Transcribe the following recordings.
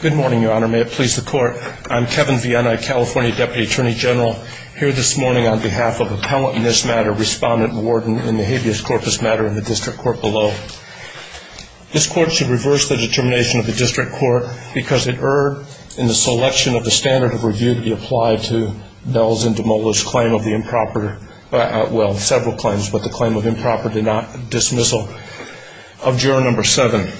Good morning, Your Honor. May it please the Court, I'm Kevin Viena, California Deputy Attorney General, here this morning on behalf of Appellant in this matter, Respondent Warden in the habeas corpus matter in the District Court below. This Court should reverse the determination of the District Court because it erred in the selection of the standard of review to be applied to Bell's and DeMola's claim of the improper, well, several claims, but the claim of improper dismissal. of juror number seven.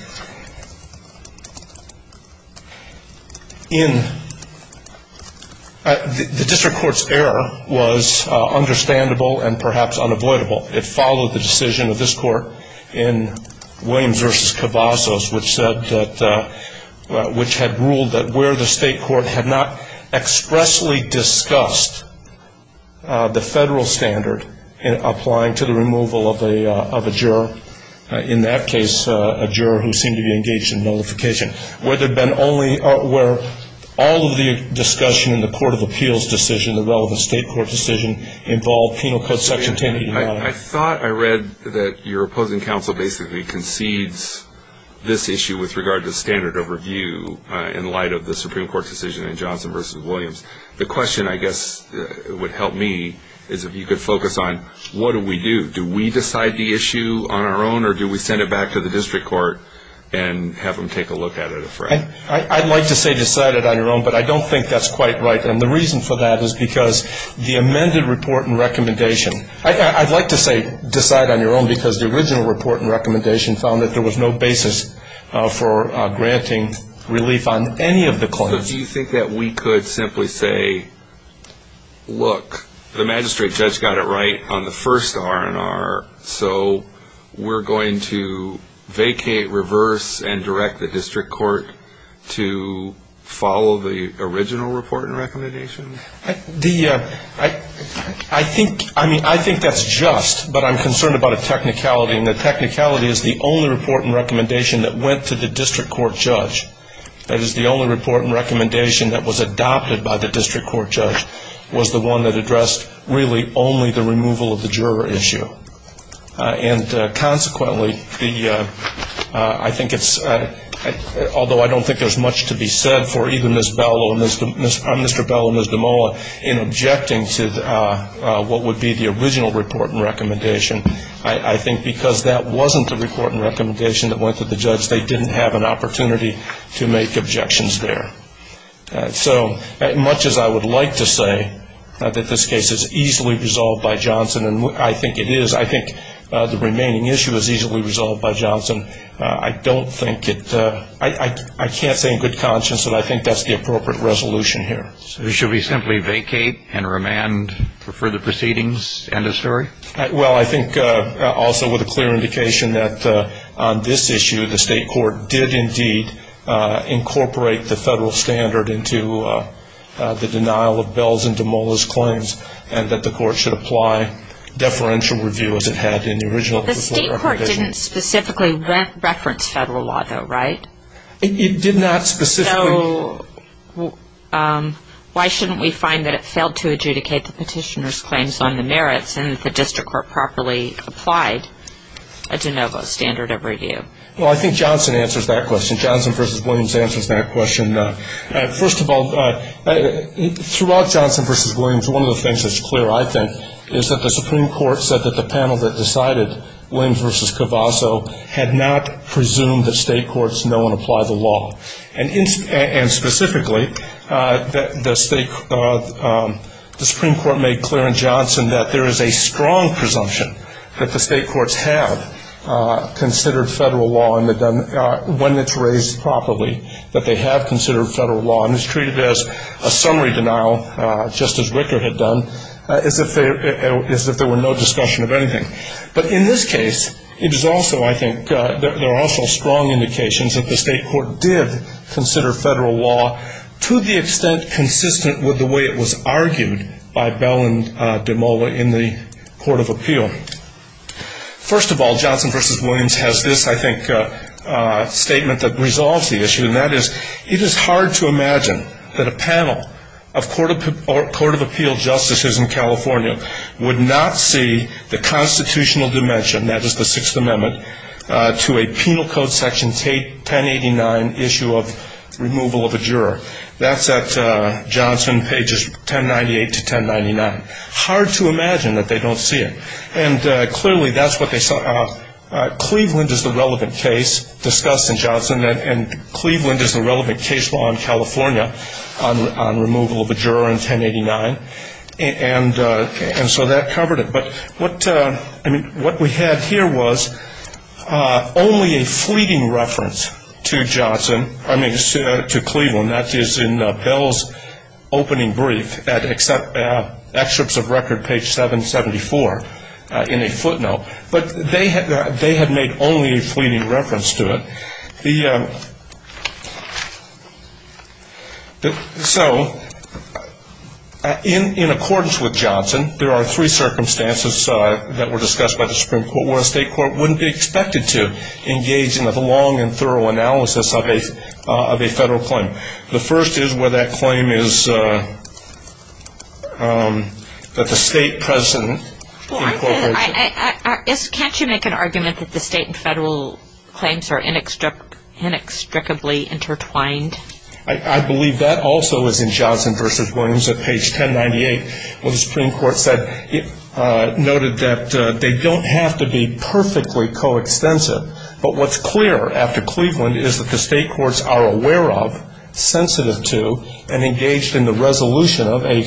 The District Court's error was understandable and perhaps unavoidable. It followed the decision of this Court in Williams v. Cavazos, which said that, which had ruled that where the State Court had not expressly discussed the federal standard in applying to the removal of a juror, in that case a juror who seemed to be engaged in notification, where all of the discussion in the Court of Appeals decision, the relevant State Court decision, involved Penal Code Section 1080. I thought I read that your opposing counsel basically concedes this issue with regard to standard of review in light of the Supreme Court decision in Johnson v. Williams. The question, I guess, would help me is if you could focus on what do we do? Do we decide the issue on our own or do we send it back to the District Court and have them take a look at it? I'd like to say decide it on your own, but I don't think that's quite right. And the reason for that is because the amended report and recommendation, I'd like to say decide on your own because the original report and recommendation found that there was no basis for granting relief on any of the claims. So do you think that we could simply say, look, the magistrate judge got it right on the first R&R, so we're going to vacate, reverse, and direct the District Court to follow the original report and recommendation? I think that's just, but I'm concerned about a technicality, and the technicality is the only report and recommendation that went to the District Court judge. That is, the only report and recommendation that was adopted by the District Court judge was the one that addressed really only the removal of the juror issue. And consequently, I think it's, although I don't think there's much to be said for either Ms. Bell or Mr. Bell or Ms. DeMola in objecting to what would be the original report and recommendation, I think because that wasn't the report and recommendation that went to the judge, they didn't have an opportunity to make objections there. So much as I would like to say that this case is easily resolved by Johnson, and I think it is, I think the remaining issue is easily resolved by Johnson, I don't think it, I can't say in good conscience that I think that's the appropriate resolution here. So should we simply vacate and remand for further proceedings, end of story? Well, I think also with a clear indication that on this issue, the state court did indeed incorporate the federal standard into the denial of Bell's and DeMola's claims, and that the court should apply deferential review as it had in the original report and recommendation. The state court didn't specifically reference federal law, though, right? It did not specifically. So why shouldn't we find that it failed to adjudicate the petitioner's claims on the merits and that the district court properly applied a de novo standard of review? Well, I think Johnson answers that question. Johnson v. Williams answers that question. First of all, throughout Johnson v. Williams, one of the things that's clear, I think, is that the Supreme Court said that the panel that decided Williams v. Cavazzo had not presumed that state courts know and apply the law. And specifically, the Supreme Court made clear in Johnson that there is a strong presumption that the state courts have considered federal law when it's raised properly, that they have considered federal law. And it's treated as a summary denial, just as Ricker had done, as if there were no discussion of anything. But in this case, it is also, I think, there are also strong indications that the state court did consider federal law to the extent consistent with the way it was argued by Bell and DeMola in the Court of Appeal. First of all, Johnson v. Williams has this, I think, statement that resolves the issue, and that is, it is hard to imagine that a panel of Court of Appeal justices in California would not see the constitutional dimension, that is, the Sixth Amendment, to a penal code section 1089 issue of removal of a juror. That's at Johnson, pages 1098 to 1099. Hard to imagine that they don't see it. And clearly, that's what they saw. Cleveland is the relevant case discussed in Johnson, and Cleveland is the relevant case law in California on removal of a juror in 1089. And so that covered it. But what we had here was only a fleeting reference to Johnson, I mean, to Cleveland. That is in Bell's opening brief at Excerpts of Record, page 774, in a footnote. But they had made only a fleeting reference to it. So, in accordance with Johnson, there are three circumstances that were discussed by the Supreme Court where a state court wouldn't be expected to engage in a long and thorough analysis of a federal claim. The first is where that claim is that the state present in corporation. Can't you make an argument that the state and federal claims are inextricably intertwined? I believe that also is in Johnson v. Williams at page 1098, where the Supreme Court noted that they don't have to be perfectly coextensive. But what's clear after Cleveland is that the state courts are aware of, sensitive to, and engaged in the resolution of a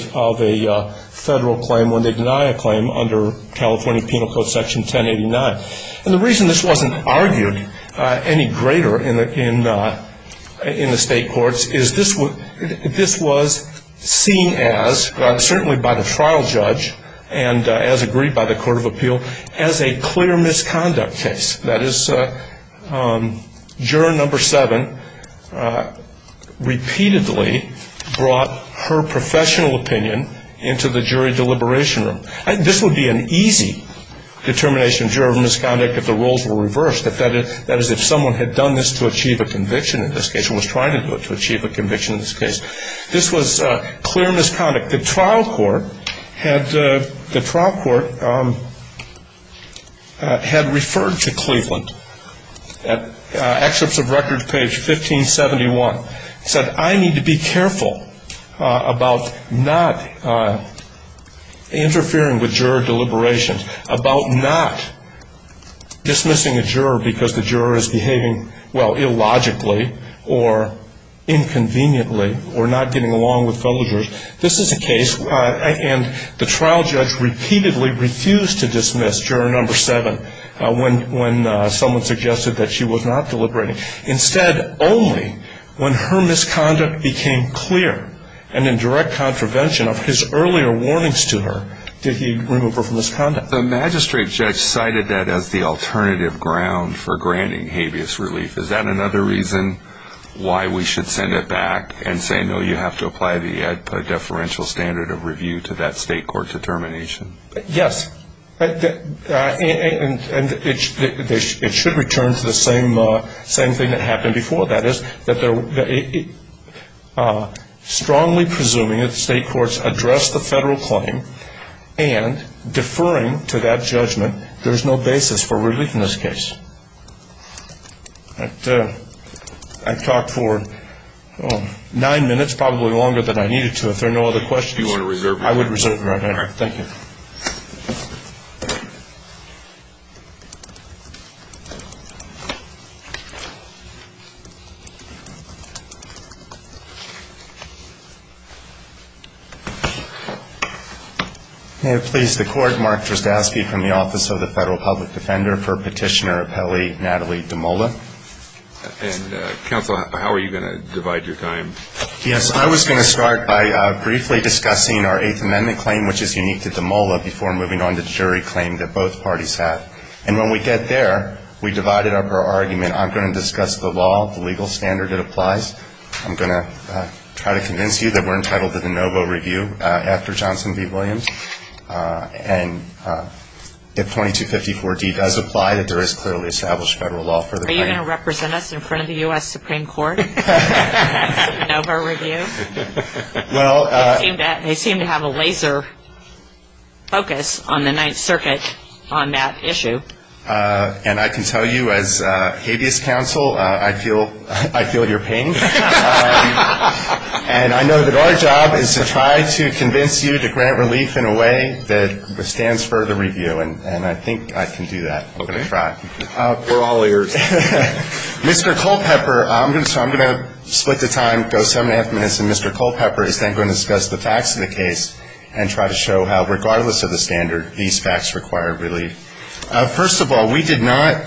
federal claim when they deny a claim under California Penal Code Section 1089. And the reason this wasn't argued any greater in the state courts is this was seen as, certainly by the trial judge, and as agreed by the Court of Appeal, as a clear misconduct case. That is, juror number seven repeatedly brought her professional opinion into the jury deliberation room. This would be an easy determination of juror misconduct if the rules were reversed. That is, if someone had done this to achieve a conviction in this case, or was trying to do it to achieve a conviction in this case. This was clear misconduct. But the trial court had referred to Cleveland at Excerpts of Records, page 1571. It said, I need to be careful about not interfering with juror deliberations, about not dismissing a juror because the juror is behaving, well, illogically or inconveniently or not getting along with fellow jurors. This is a case, and the trial judge repeatedly refused to dismiss juror number seven when someone suggested that she was not deliberating. Instead, only when her misconduct became clear and in direct contravention of his earlier warnings to her did he remove her from his conduct. The magistrate judge cited that as the alternative ground for granting habeas relief. Is that another reason why we should send it back and say, no, you have to apply the deferential standard of review to that state court determination? Yes. And it should return to the same thing that happened before. I've talked for nine minutes, probably longer than I needed to. If there are no other questions. Do you want to reserve? I would reserve right now. All right. Thank you. May it please the Court, Mark Trzaski from the Office of the Federal Public Defender for Petitioner Appellee Natalie Damola. And, Counsel, how are you going to divide your time? Yes. I was going to start by briefly discussing our Eighth Amendment claim, which is unique to Damola. Before moving on to the jury claim that both parties have. And when we get there, we divided up our argument. I'm going to discuss the law, the legal standard that applies. I'm going to try to convince you that we're entitled to the NoVo review after Johnson v. Williams. And if 2254-D does apply, that there is clearly established federal law for the party. Are you going to represent us in front of the U.S. Supreme Court? NoVo review? They seem to have a laser focus on the Ninth Circuit on that issue. And I can tell you as habeas counsel, I feel your pain. And I know that our job is to try to convince you to grant relief in a way that stands for the review. And I think I can do that. We're all ears. Mr. Culpepper, I'm going to split the time, go seven and a half minutes, and Mr. Culpepper is then going to discuss the facts of the case and try to show how, regardless of the standard, these facts require relief. First of all, we did not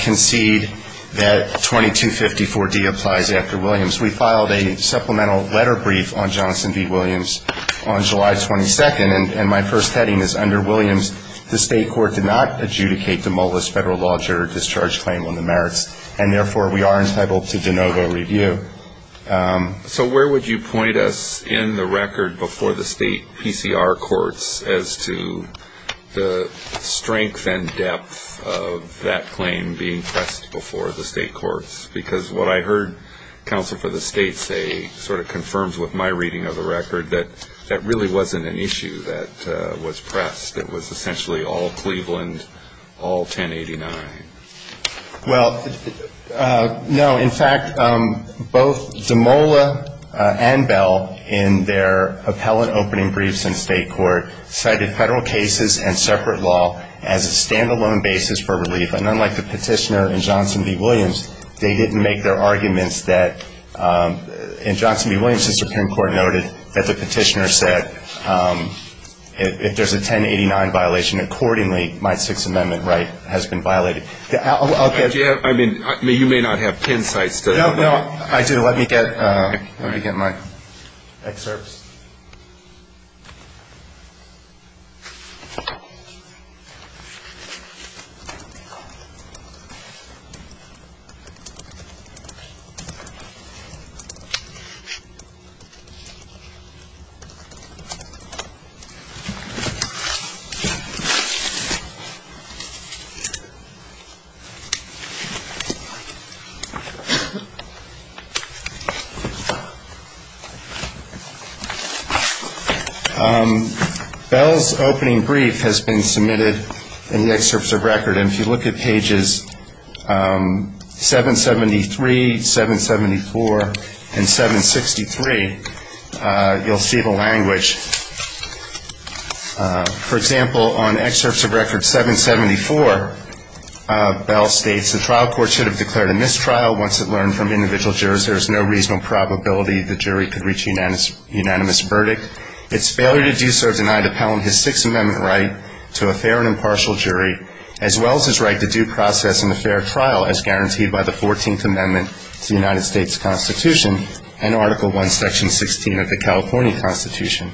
concede that 2254-D applies after Williams. We filed a supplemental letter brief on Johnson v. Williams on July 22nd. And my first heading is under Williams, the state court did not adjudicate demolished federal law deterrent discharge claim on the merits, and therefore we are entitled to the NoVo review. So where would you point us in the record before the state PCR courts as to the strength and depth of that claim being pressed before the state courts? Because what I heard counsel for the state say sort of confirms with my reading of the record that that really wasn't an issue that was pressed. It was essentially all Cleveland, all 1089. Well, no. In fact, both DeMola and Bell, in their appellate opening briefs in state court, cited federal cases and separate law as a stand-alone basis for relief. And unlike the petitioner in Johnson v. Williams, they didn't make their arguments that, in Johnson v. Williams, the Supreme Court noted that the petitioner said, if there's a 1089 violation, accordingly, my Sixth Amendment right has been violated. I mean, you may not have pin sites. No, I do. Let me get my excerpts. Bell's opening brief has been submitted in the excerpts of record. And if you look at pages 773, 774, and 763, you'll see the language. For example, on excerpts of record 774, Bell states, the trial court should have declared a mistrial once it learned from individual jurors there is no reasonable probability the jury could reach a unanimous verdict. Its failure to do so denied Appellant his Sixth Amendment right to a fair and impartial jury, as well as his right to due process in a fair trial, as guaranteed by the Fourteenth Amendment to the United States Constitution and Article I, Section 16 of the California Constitution.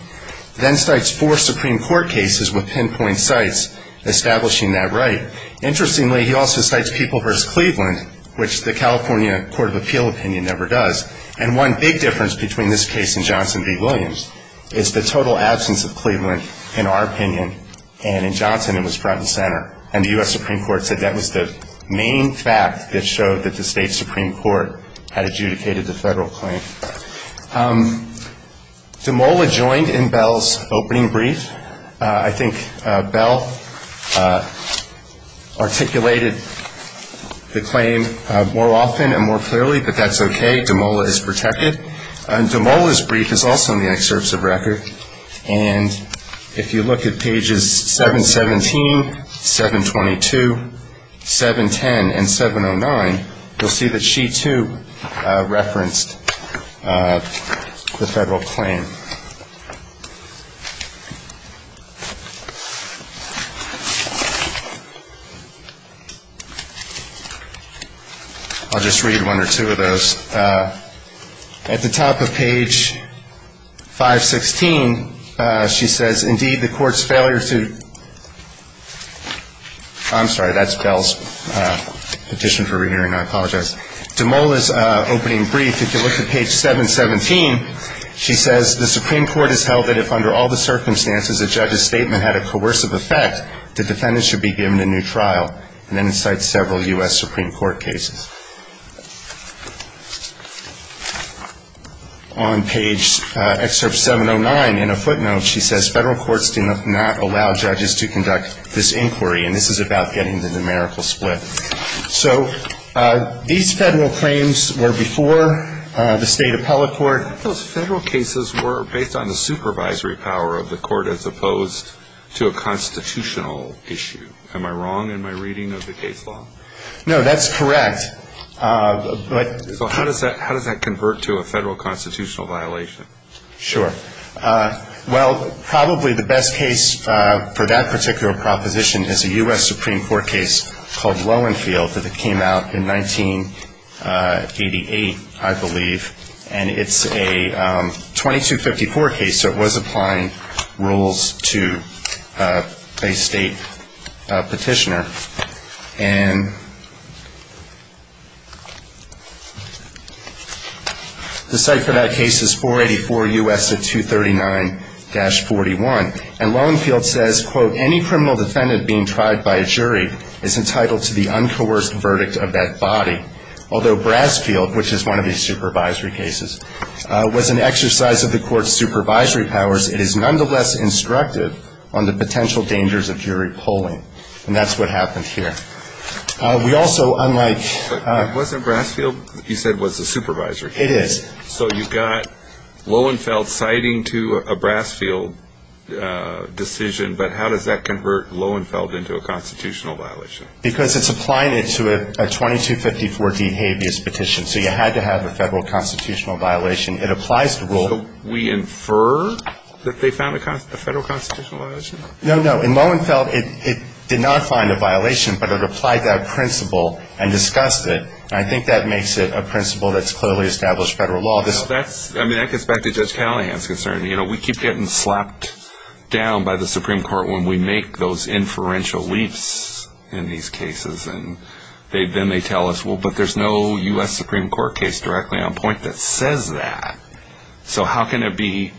Then cites four Supreme Court cases with pinpoint sites, establishing that right. Interestingly, he also cites People v. Cleveland, which the California Court of Appeal opinion never does. And one big difference between this case and Johnson v. Williams is the total absence of Cleveland, in our opinion, and in Johnson it was front and center. And the U.S. Supreme Court said that was the main fact that showed that the state Supreme Court had adjudicated the federal claim. DeMola joined in Bell's opening brief. I think Bell articulated the claim more often and more clearly, but that's okay. DeMola is protected. DeMola's brief is also in the excerpts of record. And if you look at pages 717, 722, 710, and 709, you'll see that she, too, referenced the federal claim. I'll just read one or two of those. At the top of page 516, she says, indeed, the Court's failure to — I'm sorry, that's Bell's petition for re-hearing. I apologize. DeMola's opening brief, if you look at page 717, she says, the Supreme Court has held that if, under all the circumstances, a judge's statement had a coercive effect, the defendant should be given a new trial. And then it cites several U.S. Supreme Court cases. On page — excerpt 709, in a footnote, she says, federal courts do not allow judges to conduct this inquiry. And this is about getting the numerical split. So these federal claims were before the state appellate court. Those federal cases were based on the supervisory power of the court as opposed to a constitutional issue. Am I wrong in my reading of the case law? No, that's correct. So how does that convert to a federal constitutional violation? Sure. Well, probably the best case for that particular proposition is a U.S. Supreme Court case called Lowenfield that came out in 1988, I believe. And it's a 2254 case, so it was applying rules to a state petitioner. And the cite for that case is 484 U.S. 239-41. And Lowenfield says, quote, any criminal defendant being tried by a jury is entitled to the uncoerced verdict of that body. Although Brasfield, which is one of these supervisory cases, was an exercise of the court's supervisory powers, it is nonetheless instructive on the potential dangers of jury polling. And that's what happened here. We also, unlike — But wasn't Brasfield, you said, was a supervisory case? It is. So you've got Lowenfield citing to a Brasfield decision, but how does that convert Lowenfield into a constitutional violation? Because it's applying it to a 2254D habeas petition. So you had to have a federal constitutional violation. It applies the rule. So we infer that they found a federal constitutional violation? No, no. In Lowenfield, it did not find a violation, but it applied that principle and discussed it. And I think that makes it a principle that's clearly established federal law. I mean, that gets back to Judge Callahan's concern. You know, we keep getting slapped down by the Supreme Court when we make those inferential leaps in these cases. And then they tell us, well, but there's no U.S. Supreme Court case directly on point that says that. So how can it be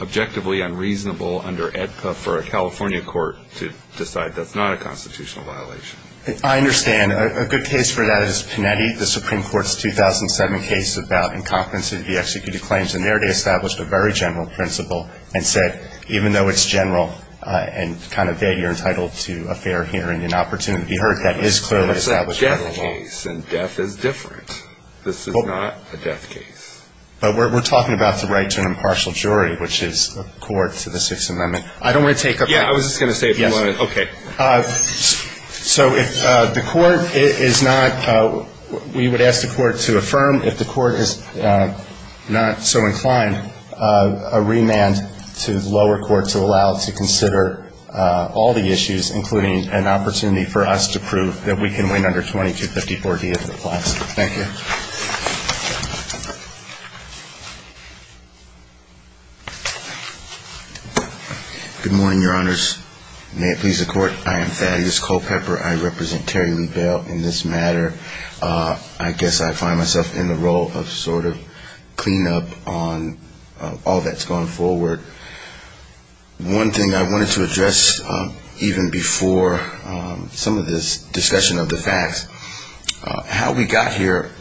objectively unreasonable under AEDPA for a California court to decide that's not a constitutional violation? I understand. A good case for that is Panetti, the Supreme Court's 2007 case about incompetency to be executed claims. And there they established a very general principle and said, even though it's general and kind of vague, you're entitled to a fair hearing and opportunity. You heard that is clearly established federal law. But it's a death case, and death is different. This is not a death case. But we're talking about the right to an impartial jury, which is a court to the Sixth Amendment. I don't want to take up your time. Yeah, I was just going to say if you wanted to. Yes. Okay. So if the court is not we would ask the court to affirm if the court is not so inclined, a remand to the lower court to allow it to consider all the issues, including an opportunity for us to prove that we can win under 2254D if it applies. Thank you. Good morning, Your Honors. May it please the Court, I am Thaddeus Culpepper. I represent Terry Lee Bell in this matter. I guess I find myself in the role of sort of cleanup on all that's gone forward. One thing I wanted to address even before some of this discussion of the facts, how we got here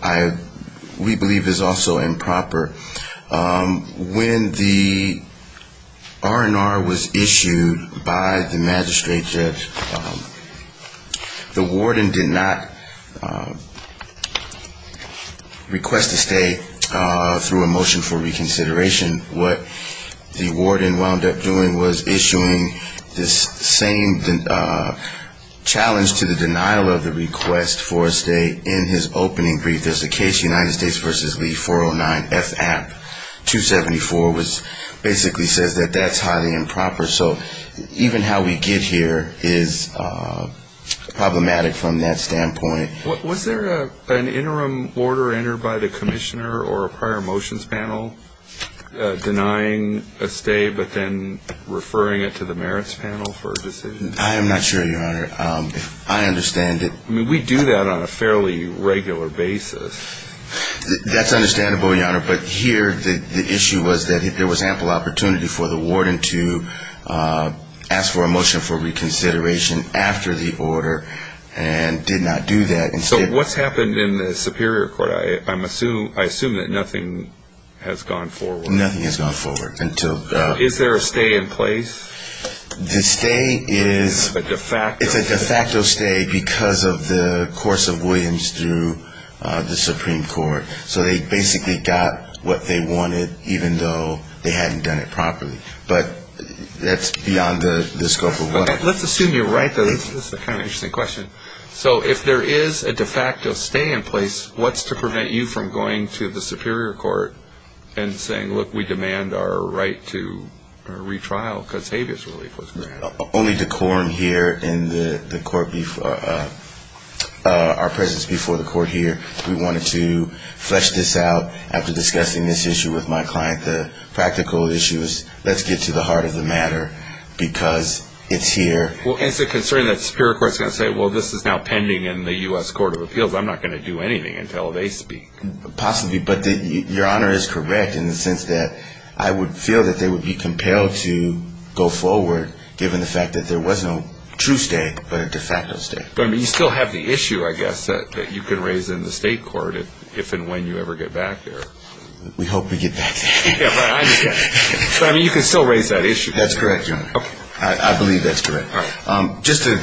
we believe is also improper. When the R&R was issued by the magistrate judge, the warden did not request a stay through a motion for reconsideration. What the warden wound up doing was issuing this same challenge to the denial of the request for a stay in his opening brief. There's a case, United States v. Lee, 409F App 274, which basically says that that's highly improper. So even how we get here is problematic from that standpoint. Was there an interim order entered by the commissioner or a prior motions panel denying a stay but then referring it to the merits panel for a decision? I am not sure, Your Honor. I understand it. We do that on a fairly regular basis. That's understandable, Your Honor. But here the issue was that there was ample opportunity for the warden to ask for a motion for reconsideration after the order and did not do that. So what's happened in the Superior Court? I assume that nothing has gone forward. Nothing has gone forward. Is there a stay in place? The stay is a de facto stay because of the course of Williams through the Supreme Court. So they basically got what they wanted, even though they hadn't done it properly. But that's beyond the scope of what I'm asking. Let's assume you're right, though. This is a kind of interesting question. So if there is a de facto stay in place, what's to prevent you from going to the Superior Court and saying, look, we demand our right to retrial because habeas relief was granted? Only decorum here in our presence before the court here. We wanted to flesh this out after discussing this issue with my client. The practical issue is let's get to the heart of the matter because it's here. Well, is it concerning that the Superior Court is going to say, well, this is now pending in the U.S. Court of Appeals? I'm not going to do anything until they speak. Possibly. But your Honor is correct in the sense that I would feel that they would be compelled to go forward, given the fact that there was no true stay but a de facto stay. But, I mean, you still have the issue, I guess, that you can raise in the state court if and when you ever get back there. We hope we get back there. But, I mean, you can still raise that issue. That's correct, Your Honor. I believe that's correct. Just a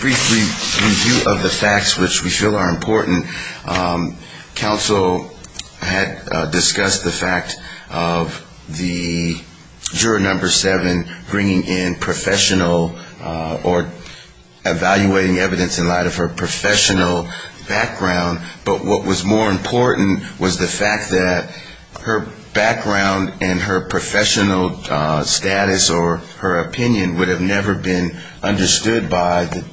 brief review of the facts, which we feel are important. Counsel had discussed the fact of the juror number seven bringing in professional or evaluating evidence in light of her professional background. But what was more important was the fact that her background and her professional status or her opinion would have never been understood by the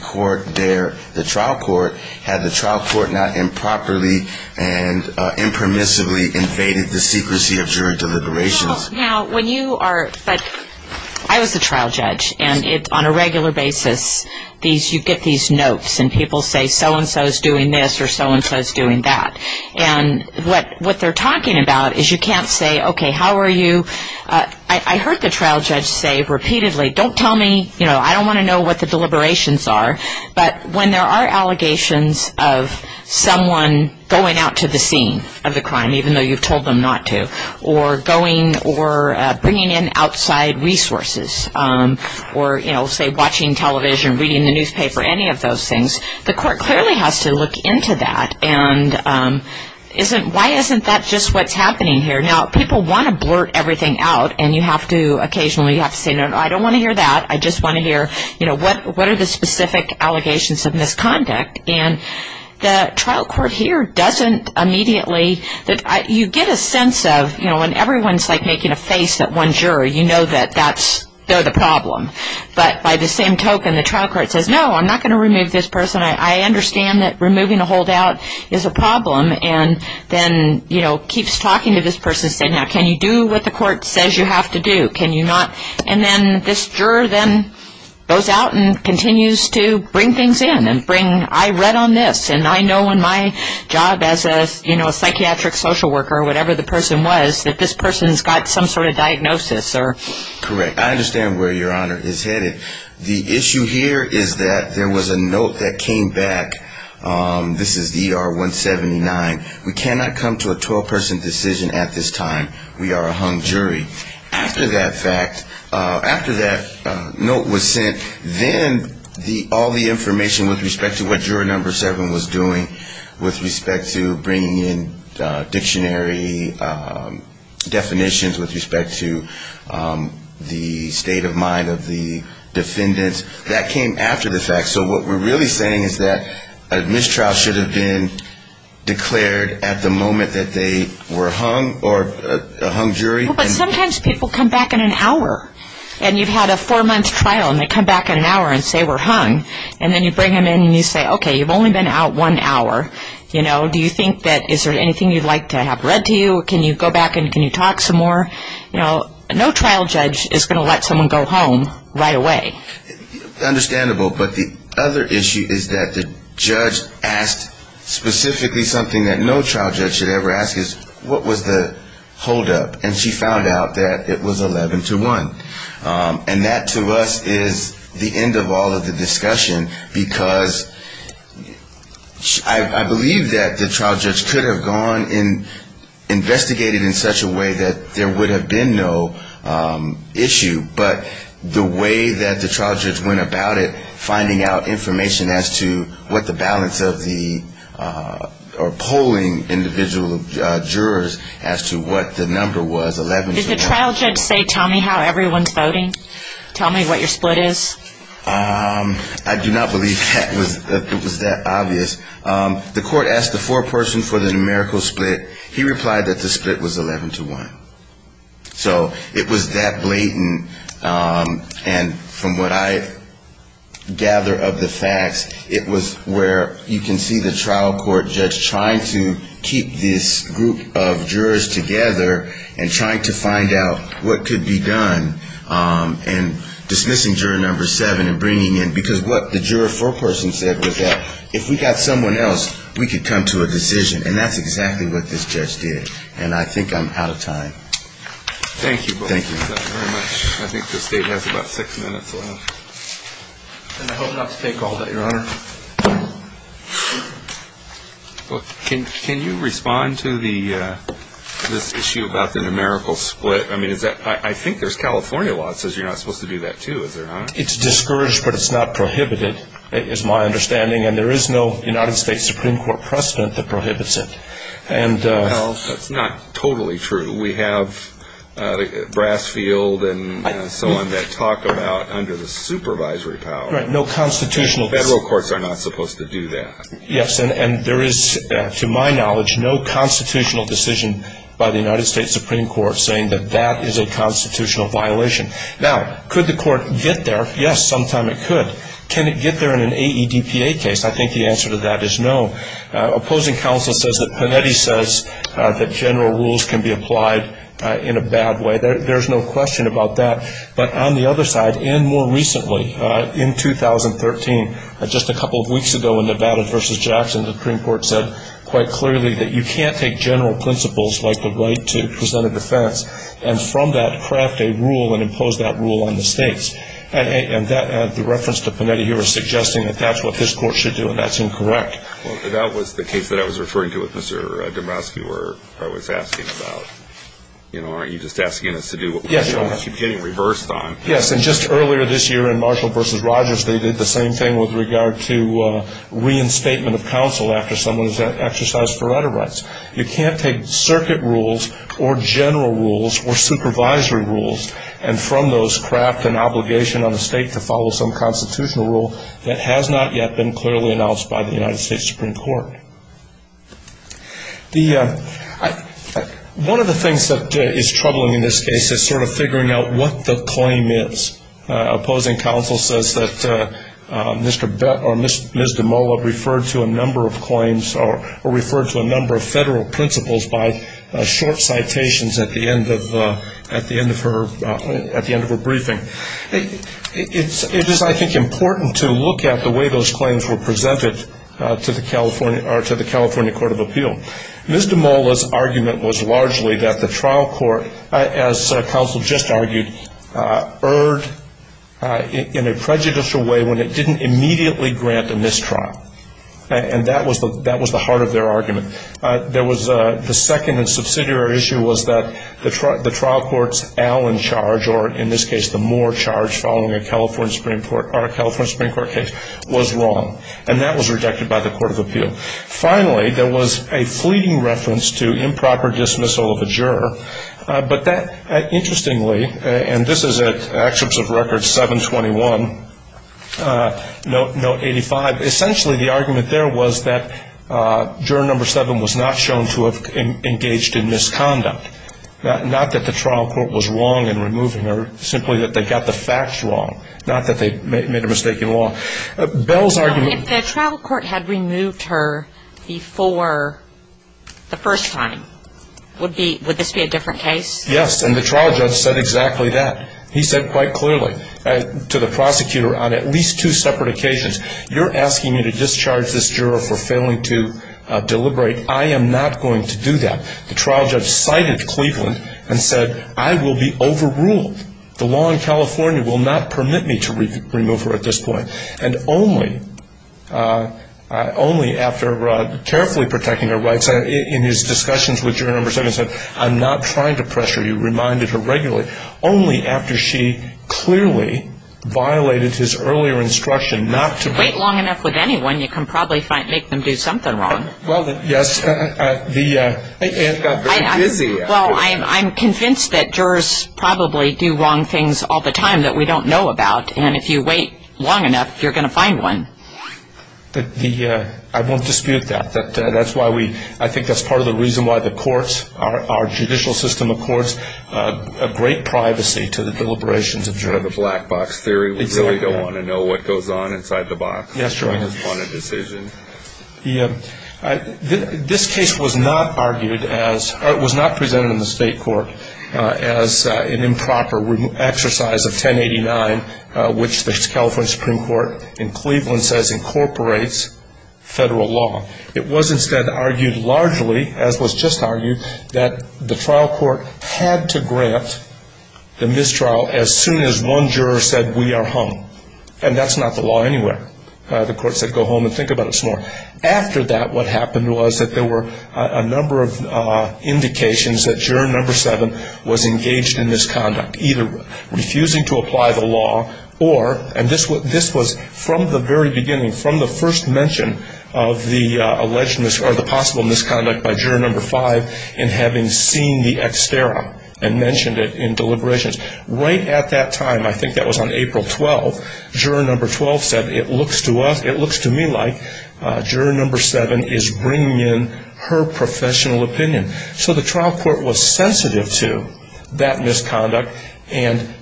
court there, the trial court, had the trial court not improperly and impermissibly invaded the secrecy of jury deliberations. Now, when you are ‑‑ I was a trial judge. And on a regular basis, you get these notes, and people say so-and-so is doing this or so-and-so is doing that. And what they're talking about is you can't say, okay, how are you ‑‑ I heard the trial judge say repeatedly, don't tell me, you know, I don't want to know what the deliberations are. But when there are allegations of someone going out to the scene of the crime, even though you've told them not to, or going or bringing in outside resources, or, you know, say watching television, reading the newspaper, any of those things, the court clearly has to look into that and isn't ‑‑ why isn't that just what's happening here? Now, people want to blurt everything out, and you have to occasionally say, no, I don't want to hear that. I just want to hear, you know, what are the specific allegations of misconduct? And the trial court here doesn't immediately ‑‑ you get a sense of, you know, when everyone is like making a face at one juror, you know that that's ‑‑ they're the problem. But by the same token, the trial court says, no, I'm not going to remove this person. I understand that removing a holdout is a problem. And then, you know, keeps talking to this person, saying, now, can you do what the court says you have to do? Can you not? And then this juror then goes out and continues to bring things in and bring, I read on this, and I know in my job as a, you know, a psychiatric social worker or whatever the person was, that this person's got some sort of diagnosis or ‑‑ Correct. I understand where Your Honor is headed. The issue here is that there was a note that came back. This is the ER 179. We cannot come to a 12‑person decision at this time. We are a hung jury. After that fact, after that note was sent, then all the information with respect to what juror number seven was doing, with respect to bringing in dictionary definitions, with respect to the state of mind of the defendants, that came after the fact. So what we're really saying is that a mistrial should have been declared at the moment that they were hung or a hung jury. Well, but sometimes people come back in an hour, and you've had a four‑month trial, and they come back in an hour and say we're hung. And then you bring them in and you say, okay, you've only been out one hour. You know, do you think that ‑‑ is there anything you'd like to have read to you? Can you go back and can you talk some more? You know, no trial judge is going to let someone go home right away. Understandable, but the other issue is that the judge asked specifically something that no trial judge should ever ask is, what was the holdup? And she found out that it was 11 to 1. And that to us is the end of all of the discussion, because I believe that the trial judge could have gone and investigated in such a way that there would have been no issue, but the way that the trial judge went about it, finding out information as to what the balance of the ‑‑ or polling individual jurors as to what the number was, 11 to 1. Did the trial judge say tell me how everyone's voting? Tell me what your split is? I do not believe that it was that obvious. The court asked the foreperson for the numerical split. He replied that the split was 11 to 1. So it was that blatant, and from what I gather of the facts, it was where you can see the trial court judge trying to keep this group of jurors together and trying to find out what could be done in dismissing juror number seven and bringing in ‑‑ because what the juror foreperson said was that if we got someone else, we could come to a decision. And that's exactly what this judge did. And I think I'm out of time. Thank you both very much. I think the state has about six minutes left. And I hope not to take all that, Your Honor. Well, can you respond to the ‑‑ this issue about the numerical split? I mean, is that ‑‑ I think there's California law that says you're not supposed to do that, too, is there not? It's discouraged, but it's not prohibited is my understanding. And there is no United States Supreme Court precedent that prohibits it. Well, that's not totally true. We have Brasfield and so on that talk about under the supervisory power. Right, no constitutional ‑‑ Federal courts are not supposed to do that. Yes, and there is, to my knowledge, no constitutional decision by the United States Supreme Court saying that that is a constitutional violation. Now, could the court get there? Yes, sometime it could. Can it get there in an AEDPA case? I think the answer to that is no. Opposing counsel says that Panetti says that general rules can be applied in a bad way. There's no question about that. But on the other side, and more recently, in 2013, just a couple of weeks ago in Nevada v. Jackson, the Supreme Court said quite clearly that you can't take general principles like the right to present a defense and from that craft a rule and impose that rule on the states. And that ‑‑ the reference to Panetti here is suggesting that that's what this court should do, and that's incorrect. Well, that was the case that I was referring to with Mr. Dombrowski where I was asking about, you know, aren't you just asking us to do what we keep getting reversed on? Yes, and just earlier this year in Marshall v. Rogers, they did the same thing with regard to reinstatement of counsel after someone has exercised for right of rights. You can't take circuit rules or general rules or supervisory rules and from those craft an obligation on a state to follow some constitutional rule that has not yet been clearly announced by the United States Supreme Court. The ‑‑ one of the things that is troubling in this case is sort of figuring out what the claim is. Opposing counsel says that Mr. or Ms. DeMola referred to a number of claims or referred to a number of federal principles by short citations at the end of her briefing. It is, I think, important to look at the way those claims were presented to the California Court of Appeal. Ms. DeMola's argument was largely that the trial court, as counsel just argued, erred in a prejudicial way when it didn't immediately grant a mistrial, and that was the heart of their argument. The second and subsidiary issue was that the trial court's Allen charge, or in this case the Moore charge following a California Supreme Court case, was wrong, and that was rejected by the Court of Appeal. Finally, there was a fleeting reference to improper dismissal of a juror, but that interestingly, and this is at excerpts of record 721, note 85, essentially the argument there was that juror number 7 was not shown to have engaged in misconduct, not that the trial court was wrong in removing her, simply that they got the facts wrong, not that they made a mistake in law. If the trial court had removed her before the first time, would this be a different case? Yes, and the trial judge said exactly that. He said quite clearly to the prosecutor on at least two separate occasions, you're asking me to discharge this juror for failing to deliberate. I am not going to do that. The trial judge cited Cleveland and said I will be overruled. The law in California will not permit me to remove her at this point. And only after carefully protecting her rights, in his discussions with juror number 7, he said I'm not trying to pressure you, reminded her regularly, only after she clearly violated his earlier instruction not to. If you wait long enough with anyone, you can probably make them do something wrong. Well, yes. She got very busy. Well, I'm convinced that jurors probably do wrong things all the time that we don't know about, and if you wait long enough, you're going to find one. I won't dispute that. That's why we – I think that's part of the reason why the courts, our judicial system of courts, break privacy to the deliberations of jurors. The black box theory. Exactly. We really don't want to know what goes on inside the box. That's right. On a decision. This case was not argued as – or it was not presented in the state court as an improper exercise of 1089, which the California Supreme Court in Cleveland says incorporates federal law. It was instead argued largely, as was just argued, that the trial court had to grant the mistrial as soon as one juror said, we are hung. And that's not the law anywhere. The court said, go home and think about it some more. After that, what happened was that there were a number of indications that juror number seven was engaged in this conduct, either refusing to apply the law or – and this was from the very beginning, from the first mention of the alleged – or the possible misconduct by juror number five in having seen the ex terra and mentioned it in deliberations. Right at that time, I think that was on April 12th, juror number 12 said, it looks to us – it looks to me like juror number seven is bringing in her professional opinion. So the trial court was sensitive to that misconduct and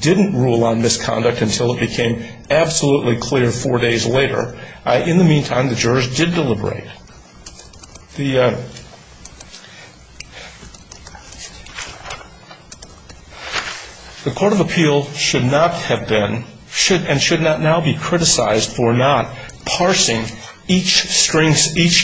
didn't rule on misconduct until it became absolutely clear four days later. In the meantime, the jurors did deliberate. The – the court of appeal should not have been – should – and should not now be criticized for not parsing each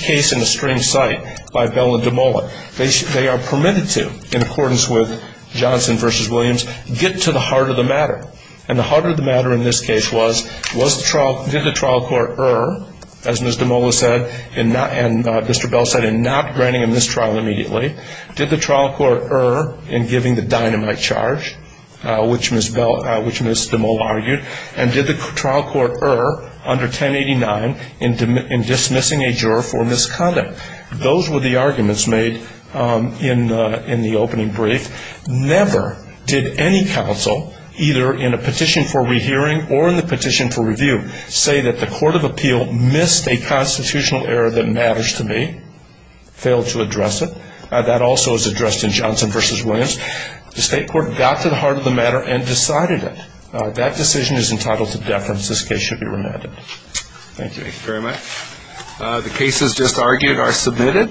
case in a string cite by Bell and DeMola. They are permitted to, in accordance with Johnson v. Williams, get to the heart of the matter. And the heart of the matter in this case was, was the trial – did the trial court err, as Ms. DeMola said, and Mr. Bell said, in not granting a mistrial immediately? Did the trial court err in giving the dynamite charge, which Ms. Bell – which Ms. DeMola argued? And did the trial court err under 1089 in dismissing a juror for misconduct? Those were the arguments made in the opening brief. Never did any counsel, either in a petition for rehearing or in the petition for review, say that the court of appeal missed a constitutional error that matters to me, failed to address it. That also is addressed in Johnson v. Williams. The state court got to the heart of the matter and decided it. That decision is entitled to deference. This case should be remanded. Thank you. Thank you very much. The cases just argued are submitted.